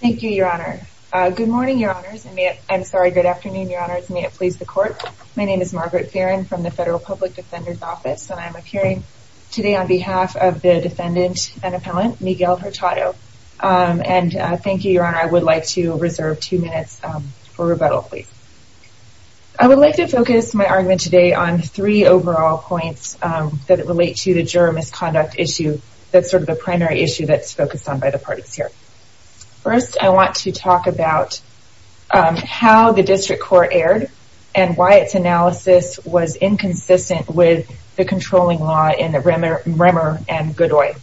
Thank you, Your Honor. Good morning, Your Honors. I'm sorry, good afternoon, Your Honors. May it please the Court. My name is Margaret Fearon from the Federal Public Defender's Office, and I'm appearing today on behalf of the defendant and appellant, Miguel Hurtado. And thank you, Your Honor. I would like to reserve two minutes for rebuttal, please. I would like to focus my argument today on three overall points that relate to the juror misconduct issue that's sort of the primary issue that's focused on by the parties here. First, I want to talk about how the district court erred and why its analysis was inconsistent with the controlling law in the Remmer and Goodway.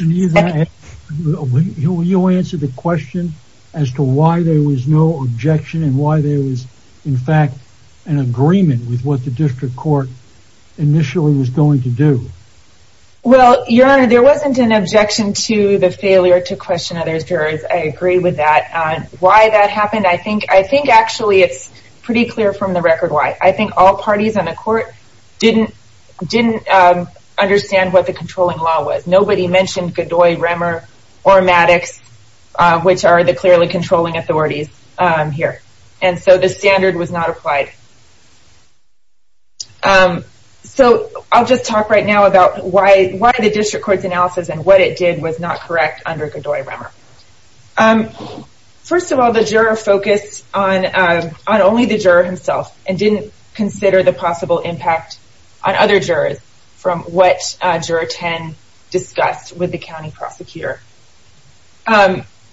And you answer the question as to why there was no objection and why there was, in fact, an agreement with what the district court initially was going to do. Well, Your Honor, there wasn't an objection to the failure to question other jurors. I agree with that. Why that happened, I think actually it's pretty clear from the record why. I think all parties in the court didn't understand what the controlling law was. Nobody mentioned Goodway, Remmer, or Maddox, which are the clearly controlling authorities here. And so the standard was not applied. So I'll just talk right now about why the district court's analysis and what it did was not correct under Goodway, Remmer. First of all, the juror focused on only the juror himself and didn't consider the possible impact on other jurors from what Juror 10 discussed with the county prosecutor.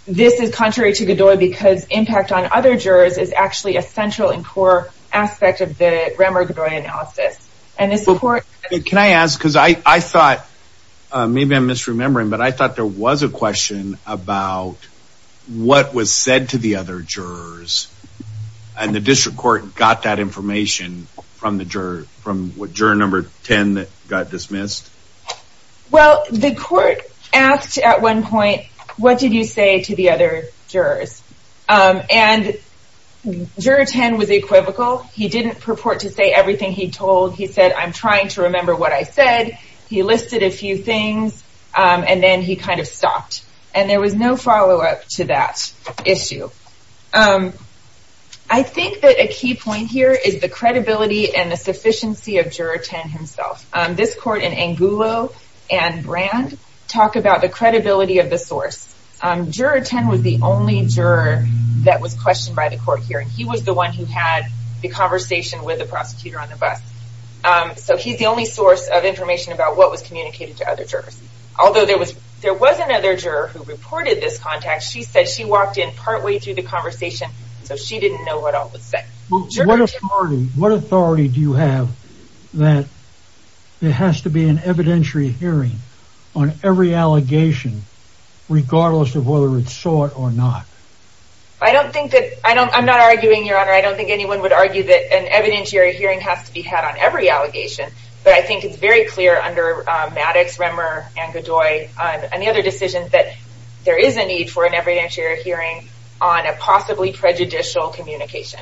This is contrary to Goodway because impact on other jurors is actually a central and core aspect of the Remmer-Goodway analysis. Can I ask, because I thought, maybe I'm misremembering, but I thought there was a question about what was said to the other jurors and the district court got that information from what Juror 10 got dismissed? Well, the court asked at one point, what did you say to the other jurors? And Juror 10 was equivocal. He didn't purport to say everything he told. He said, I'm trying to remember what I said. He listed a few things and then he kind of stopped. And there was no follow-up to that issue. I think that a key point here is the credibility and the sufficiency of Juror 10 himself. This court in Angulo and Brand talk about the credibility of the source. Juror 10 was the only juror that was questioned by the court hearing. He was the one who had the conversation with the prosecutor on the bus. So he's the only source of information about what was communicated to other jurors. Although there was another juror who reported this contact. She said she walked in partway through the conversation, so she didn't know what all was said. What authority do you have that there has to be an evidentiary hearing on every allegation, regardless of whether it's sought or not? I'm not arguing, Your Honor. I don't think anyone would argue that an evidentiary hearing has to be had on every allegation. But I think it's very clear under Maddox, Remmer, and Godoy and the other decisions that there is a need for an evidentiary hearing on a possibly prejudicial communication.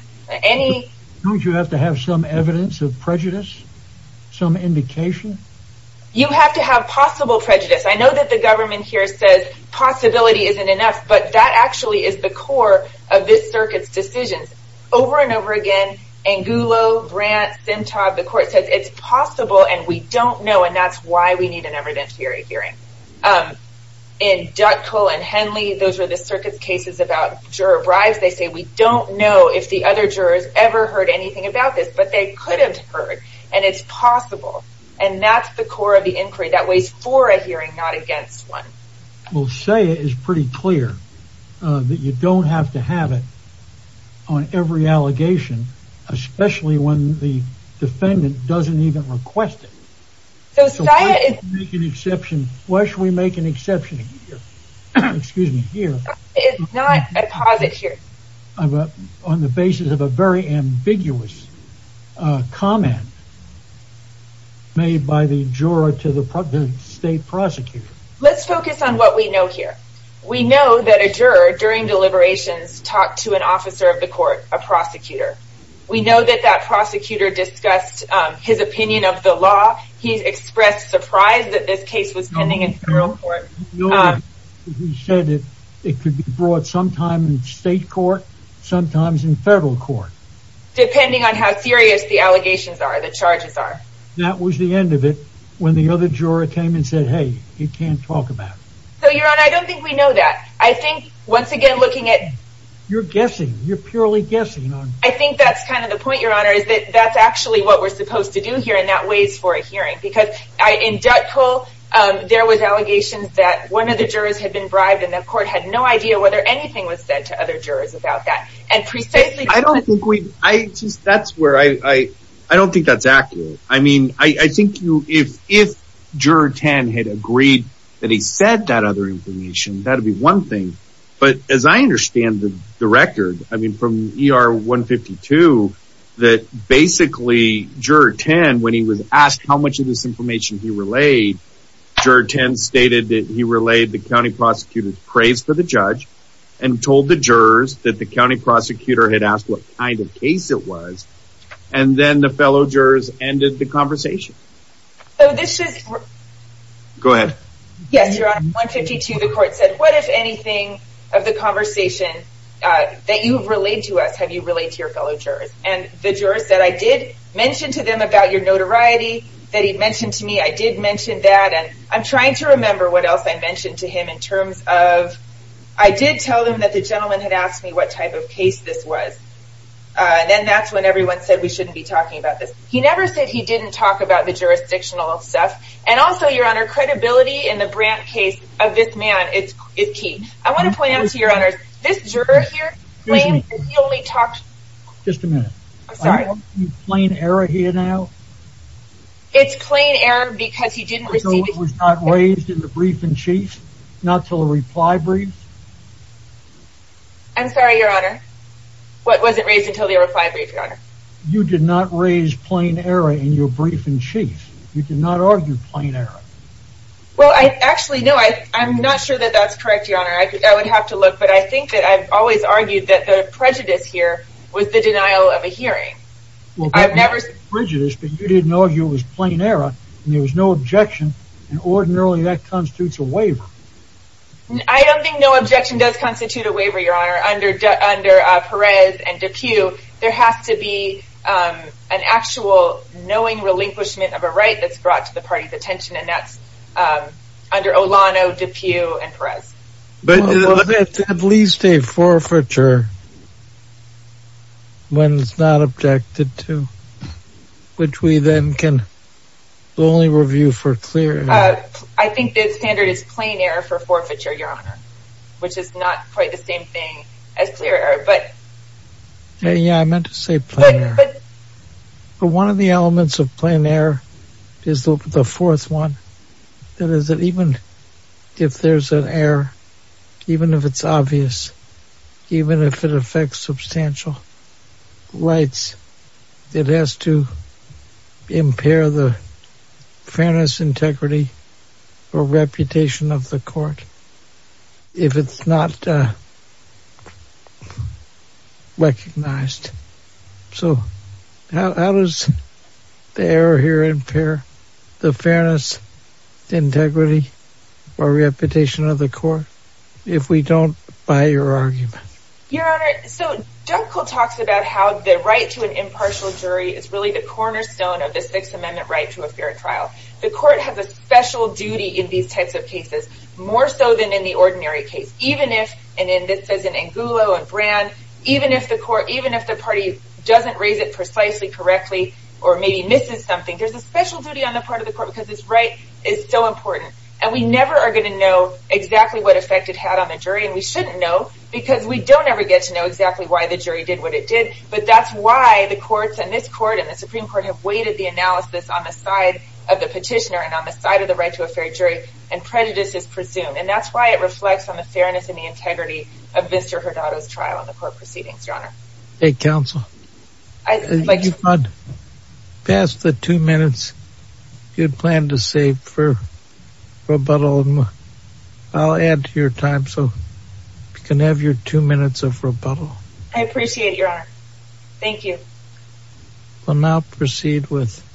Don't you have to have some evidence of prejudice? Some indication? You have to have possible prejudice. I know that the government here says possibility isn't enough, but that actually is the core of this circuit's decisions. Over and over again, Angulo, Brand, Simtad, the court says it's possible and we don't know and that's why we need an evidentiary hearing. In Dutkill and Henley, those are the circuit's cases about juror bribes. They say we don't know if the other jurors ever heard anything about this, but they could have heard and it's possible. And that's the core of the inquiry. That weighs for a hearing, not against one. We'll say it is pretty clear that you don't have to have it on every allegation, especially when the defendant doesn't even request it. Why should we make an exception here? It's not a posit here. On the basis of a very ambiguous comment made by the juror to the state prosecutor. Let's focus on what we know here. We know that a juror, during deliberations, talked to an officer of the court, a prosecutor. We know that that prosecutor discussed his opinion of the law. He expressed surprise that this case was pending in federal court. He said it could be brought sometime in state court, sometimes in federal court. Depending on how serious the allegations are, the charges are. That was the end of it, when the other juror came and said, hey, you can't talk about it. So, Your Honor, I don't think we know that. I think, once again, looking at... You're guessing. You're purely guessing. I think that's kind of the point, Your Honor, is that that's actually what we're supposed to do here, and that weighs for a hearing. Because in Dutkow, there was allegations that one of the jurors had been bribed, and the court had no idea whether anything was said to other jurors about that. And precisely... I don't think we... I just... That's where I... I don't think that's accurate. I mean, I think if Juror 10 had agreed that he said that other information, that would be one thing. But, as I understand the record, I mean, from ER 152, that basically, Juror 10, when he was asked how much of this information he relayed, Juror 10 stated that he relayed the county prosecutor's praise for the judge, and told the jurors that the county prosecutor had asked what kind of case it was, and then the fellow jurors ended the conversation. So, this is... Go ahead. Yes, Your Honor. In 152, the court said, what, if anything, of the conversation that you've relayed to us, have you relayed to your fellow jurors? And the jurors said, I did mention to them about your notoriety, that he mentioned to me, I did mention that, and I'm trying to remember what else I mentioned to him in terms of... I did tell them that the gentleman had asked me what type of case this was. And then that's when everyone said we shouldn't be talking about this. He never said he didn't talk about the jurisdictional stuff. And also, Your Honor, credibility in the Brandt case of this man is key. I want to point out to Your Honors, this juror here... Excuse me. He only talked... Just a minute. I'm sorry. Are you talking about plain error here now? It's plain error because he didn't receive... Until it was not raised in the brief in chief? Not until the reply brief? I'm sorry, Your Honor. You did not raise plain error in your brief in chief. You did not argue plain error. Well, actually, no. I'm not sure that that's correct, Your Honor. I would have to look. But I think that I've always argued that the prejudice here was the denial of a hearing. Well, that was prejudice, but you didn't argue it was plain error. And there was no objection. And ordinarily, that constitutes a waiver. I don't think no objection does constitute a waiver, Your Honor. Under Perez and DePue, there has to be an actual knowing relinquishment of a right that's brought to the party's attention. And that's under Olano, DePue, and Perez. Well, that's at least a forfeiture when it's not objected to, which we then can only review for clear error. I think the standard is plain error for forfeiture, Your Honor, which is not quite the same thing as clear error. Yeah, I meant to say plain error. But one of the elements of plain error is the fourth one. That is that even if there's an error, even if it's obvious, even if it affects substantial rights, it has to impair the fairness, integrity, or reputation of the court if it's not recognized. So how does the error here impair the fairness, integrity, or reputation of the court if we don't buy your argument? Your Honor, so Dunkel talks about how the right to an impartial jury is really the cornerstone of the Sixth Amendment right to a fair trial. The court has a special duty in these types of cases, more so than in the ordinary case. Even if, and this says in Angulo and Brand, even if the court, even if the party doesn't raise it precisely, correctly, or maybe misses something, there's a special duty on the part of the court because this right is so important. And we never are going to know exactly what effect it had on the jury, and we shouldn't know because we don't ever get to know exactly why the jury did what it did. But that's why the courts and this court and the Supreme Court have weighted the analysis on the side of the petitioner and on the side of the right to a fair jury, and prejudice is presumed. And that's why it reflects on the fairness and the integrity of Mr. Hurtado's trial in the court proceedings, Your Honor. Hey, Counsel. I'd like to... You've gone past the two minutes you'd planned to save for rebuttal, and I'll add to your time so you can have your two minutes of rebuttal. I appreciate it, Your Honor. Thank you. We'll now proceed with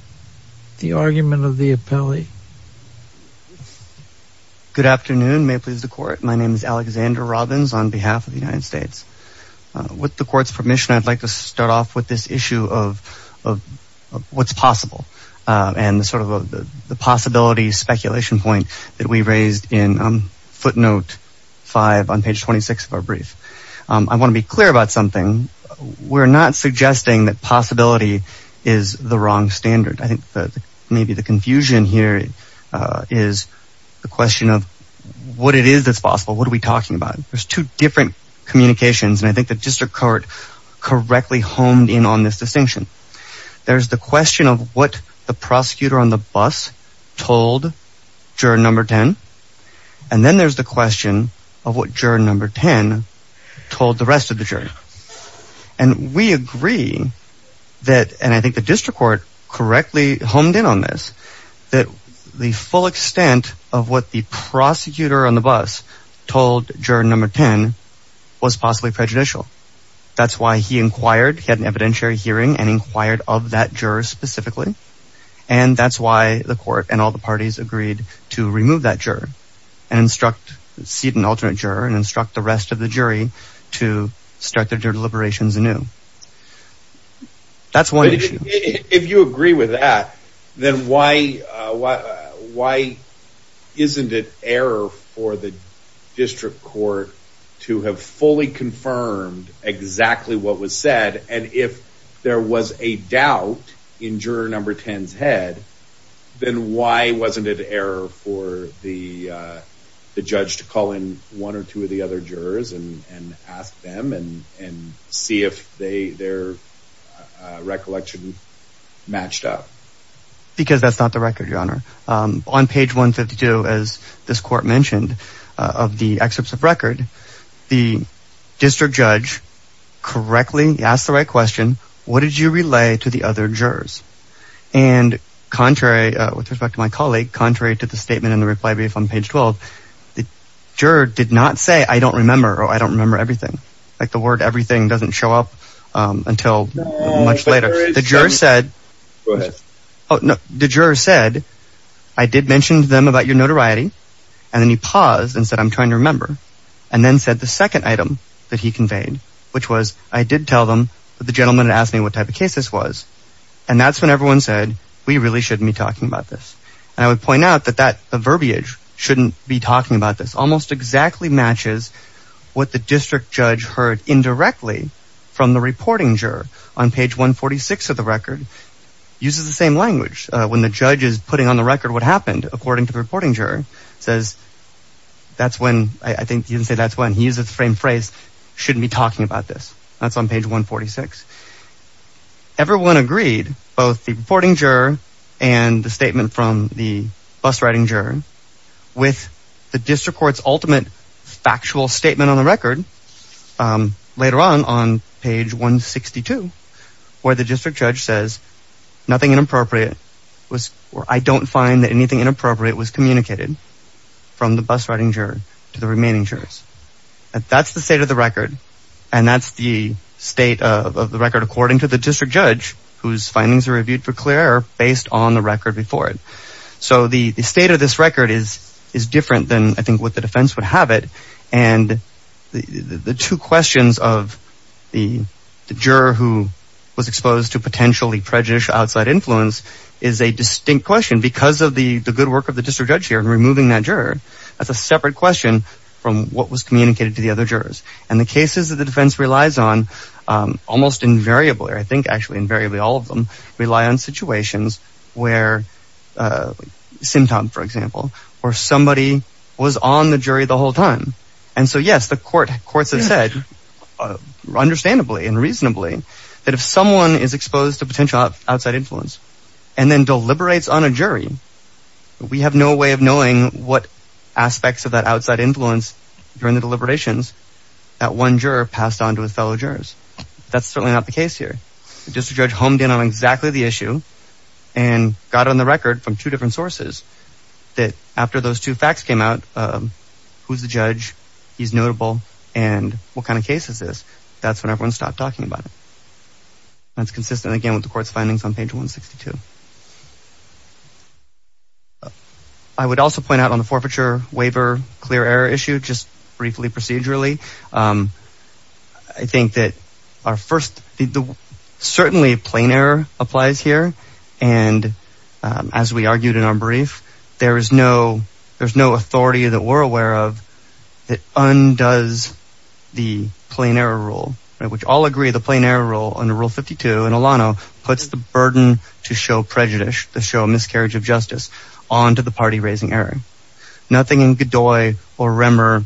the argument of the appellee. Good afternoon. May it please the court. My name is Alexander Robbins on behalf of the United States. With the court's permission, I'd like to start off with this issue of what's possible and sort of the possibility speculation point that we raised in footnote five on page 26 of our brief. I want to be clear about something. We're not suggesting that possibility is the wrong standard. I think that maybe the confusion here is the question of what it is that's possible. What are we talking about? There's two different communications, and I think the district court correctly honed in on this distinction. There's the question of what the prosecutor on the bus told juror number 10, and then there's the question of what juror number 10 told the rest of the jury. And we agree that, and I think the district court correctly honed in on this, that the full extent of what the prosecutor on the bus told juror number 10 was possibly prejudicial. That's why he inquired. He had an evidentiary hearing and inquired of that juror specifically. And that's why the court and all the parties agreed to remove that juror and instruct, seat an alternate juror and instruct the rest of the jury to start their deliberations anew. That's one issue. If you agree with that, then why isn't it error for the district court to have fully confirmed exactly what was said? And if there was a doubt in juror number 10's head, then why wasn't it error for the judge to call in one or two of the other jurors and ask them and see if their recollection matched up? Because that's not the record, Your Honor. On page 152, as this court mentioned, of the excerpts of record, the district judge correctly asked the right question, what did you relay to the other jurors? And contrary, with respect to my colleague, contrary to the statement in the reply brief on page 12, the juror did not say, I don't remember or I don't remember everything. Like the word everything doesn't show up until much later. The juror said, I did mention to them about your notoriety. And then he paused and said, I'm trying to remember. And then said the second item that he conveyed, which was, I did tell them that the gentleman asked me what type of case this was. And that's when everyone said, we really shouldn't be talking about this. And I would point out that the verbiage, shouldn't be talking about this, almost exactly matches what the district judge heard indirectly from the reporting juror. On page 146 of the record, uses the same language. When the judge is putting on the record what happened, according to the reporting juror, says, that's when, I think he didn't say that's when, he uses the same phrase, shouldn't be talking about this. That's on page 146. Everyone agreed, both the reporting juror and the statement from the bus riding juror, with the district court's ultimate factual statement on the record. Later on, on page 162, where the district judge says, nothing inappropriate was, or I don't find that anything inappropriate was communicated from the bus riding juror to the remaining jurors. That's the state of the record. And that's the state of the record according to the district judge, whose findings are reviewed for clear based on the record before it. So the state of this record is different than I think what the defense would have it. And the two questions of the juror who was exposed to potentially prejudicial outside influence is a distinct question because of the good work of the district judge here in removing that juror. That's a separate question from what was communicated to the other jurors. And the cases that the defense relies on, almost invariably, or I think actually invariably all of them, rely on situations where, Sim Tom for example, where somebody was on the jury the whole time. And so yes, the courts have said, understandably and reasonably, that if someone is exposed to potential outside influence and then deliberates on a jury, we have no way of knowing what aspects of that outside influence during the deliberations that one juror passed on to his fellow jurors. That's certainly not the case here. District judge honed in on exactly the issue and got on the record from two different sources that after those two facts came out, who's the judge, he's notable, and what kind of case is this? That's when everyone stopped talking about it. That's consistent again with the court's findings on page 162. I would also point out on the forfeiture waiver clear error issue, just briefly procedurally. I think that our first, certainly plain error applies here. And as we argued in our brief, there's no authority that we're aware of that undoes the plain error rule, which all agree the plain error rule under Rule 52 in Alano puts the burden to show prejudice, to show miscarriage of justice onto the party raising error. Nothing in Godoy or Remmer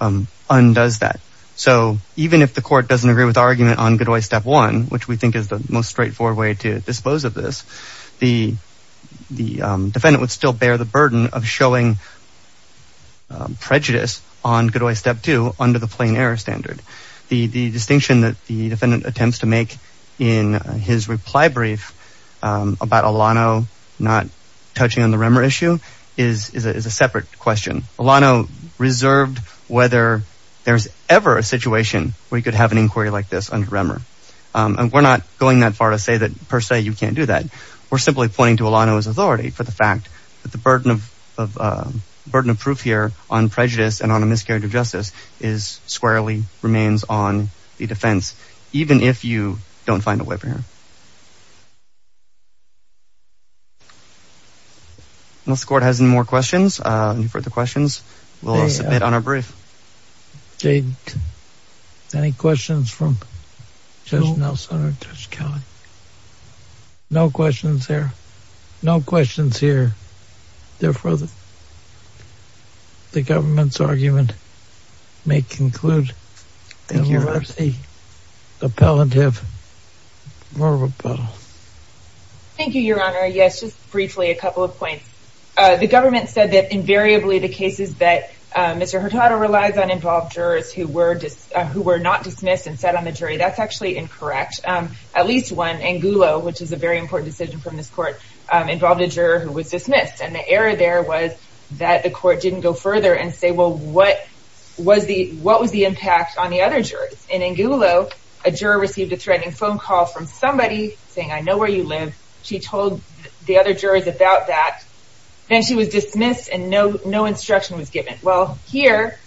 undoes that. So even if the court doesn't agree with argument on Godoy Step 1, which we think is the most straightforward way to dispose of this, the defendant would still bear the burden of showing prejudice on Godoy Step 2 under the plain error standard. The distinction that the defendant attempts to make in his reply brief about Alano not touching on the Remmer issue is a separate question. Alano reserved whether there's ever a situation where he could have an inquiry like this under Remmer. And we're not going that far to say that per se you can't do that. We're simply pointing to Alano's authority for the fact that the burden of burden of proof here on prejudice and on a miscarriage of justice is squarely remains on the defense, even if you don't find a way for him. Unless the court has any more questions, any further questions, we'll submit on our brief. Any questions from Judge Nelson or Judge Kelly? No questions here. Therefore, the government's argument may conclude. Thank you, Your Honor. Yes, just briefly a couple of points. The government said that invariably the cases that Mr. Hurtado relies on involved jurors who were just who were not dismissed and set on the jury. That's actually incorrect. Angulo, which is a very important decision from this court, involved a juror who was dismissed. And the error there was that the court didn't go further and say, well, what was the impact on the other jurors? In Angulo, a juror received a threatening phone call from somebody saying, I know where you live. She told the other jurors about that. Well, here,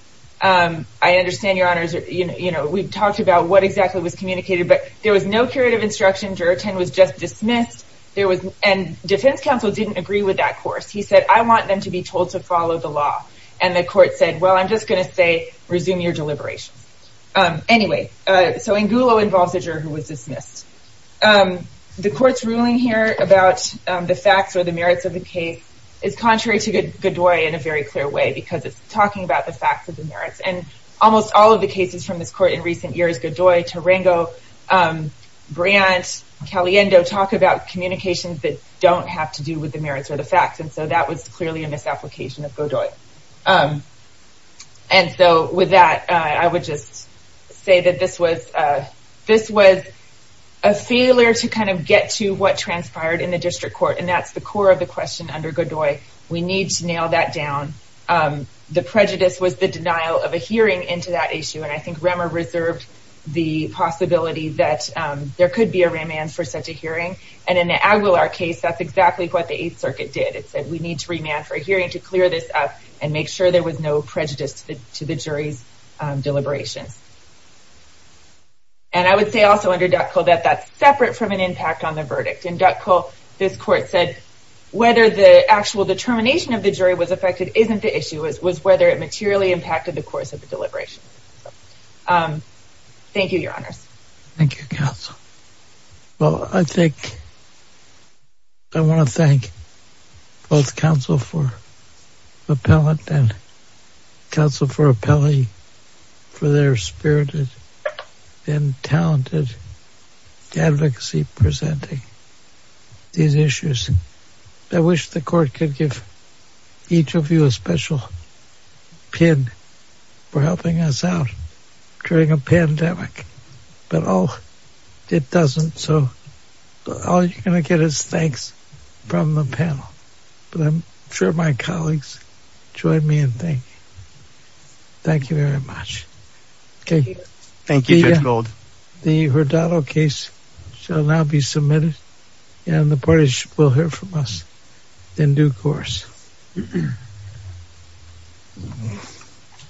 I understand, Your Honor, we've talked about what exactly was communicated, but there was no curative instruction. Juror 10 was just dismissed. And defense counsel didn't agree with that course. He said, I want them to be told to follow the law. And the court said, well, I'm just going to say resume your deliberations. Anyway, so Angulo involves a juror who was dismissed. The court's ruling here about the facts or the merits of the case is contrary to Godoy in a very clear way, because it's talking about the facts of the merits. And almost all of the cases from this court in recent years, Godoy, Tarango, Brandt, Caliendo, talk about communications that don't have to do with the merits or the facts. And so that was clearly a misapplication of Godoy. And so with that, I would just say that this was a failure to kind of get to what transpired in the district court. And that's the core of the question under Godoy. We need to nail that down. The prejudice was the denial of a hearing into that issue. And I think Remmer reserved the possibility that there could be a remand for such a hearing. And in the Aguilar case, that's exactly what the Eighth Circuit did. It said we need to remand for a hearing to clear this up and make sure there was no prejudice to the jury's deliberations. And I would say also under Dutkow that that's separate from an impact on the verdict. In Dutkow, this court said whether the actual determination of the jury was affected isn't the issue. It was whether it materially impacted the course of the deliberations. Thank you, Counsel. Well, I think I want to thank both Counsel for Appellate and Counsel for Appellee for their spirited and talented advocacy presenting these issues. I wish the court could give each of you a special pin for helping us out during a pandemic. But all it doesn't, so all you're going to get is thanks from the panel. But I'm sure my colleagues join me in thanking. Thank you very much. Thank you, Judge Gold. The Hurtado case shall now be submitted and the parties will hear from us in due course.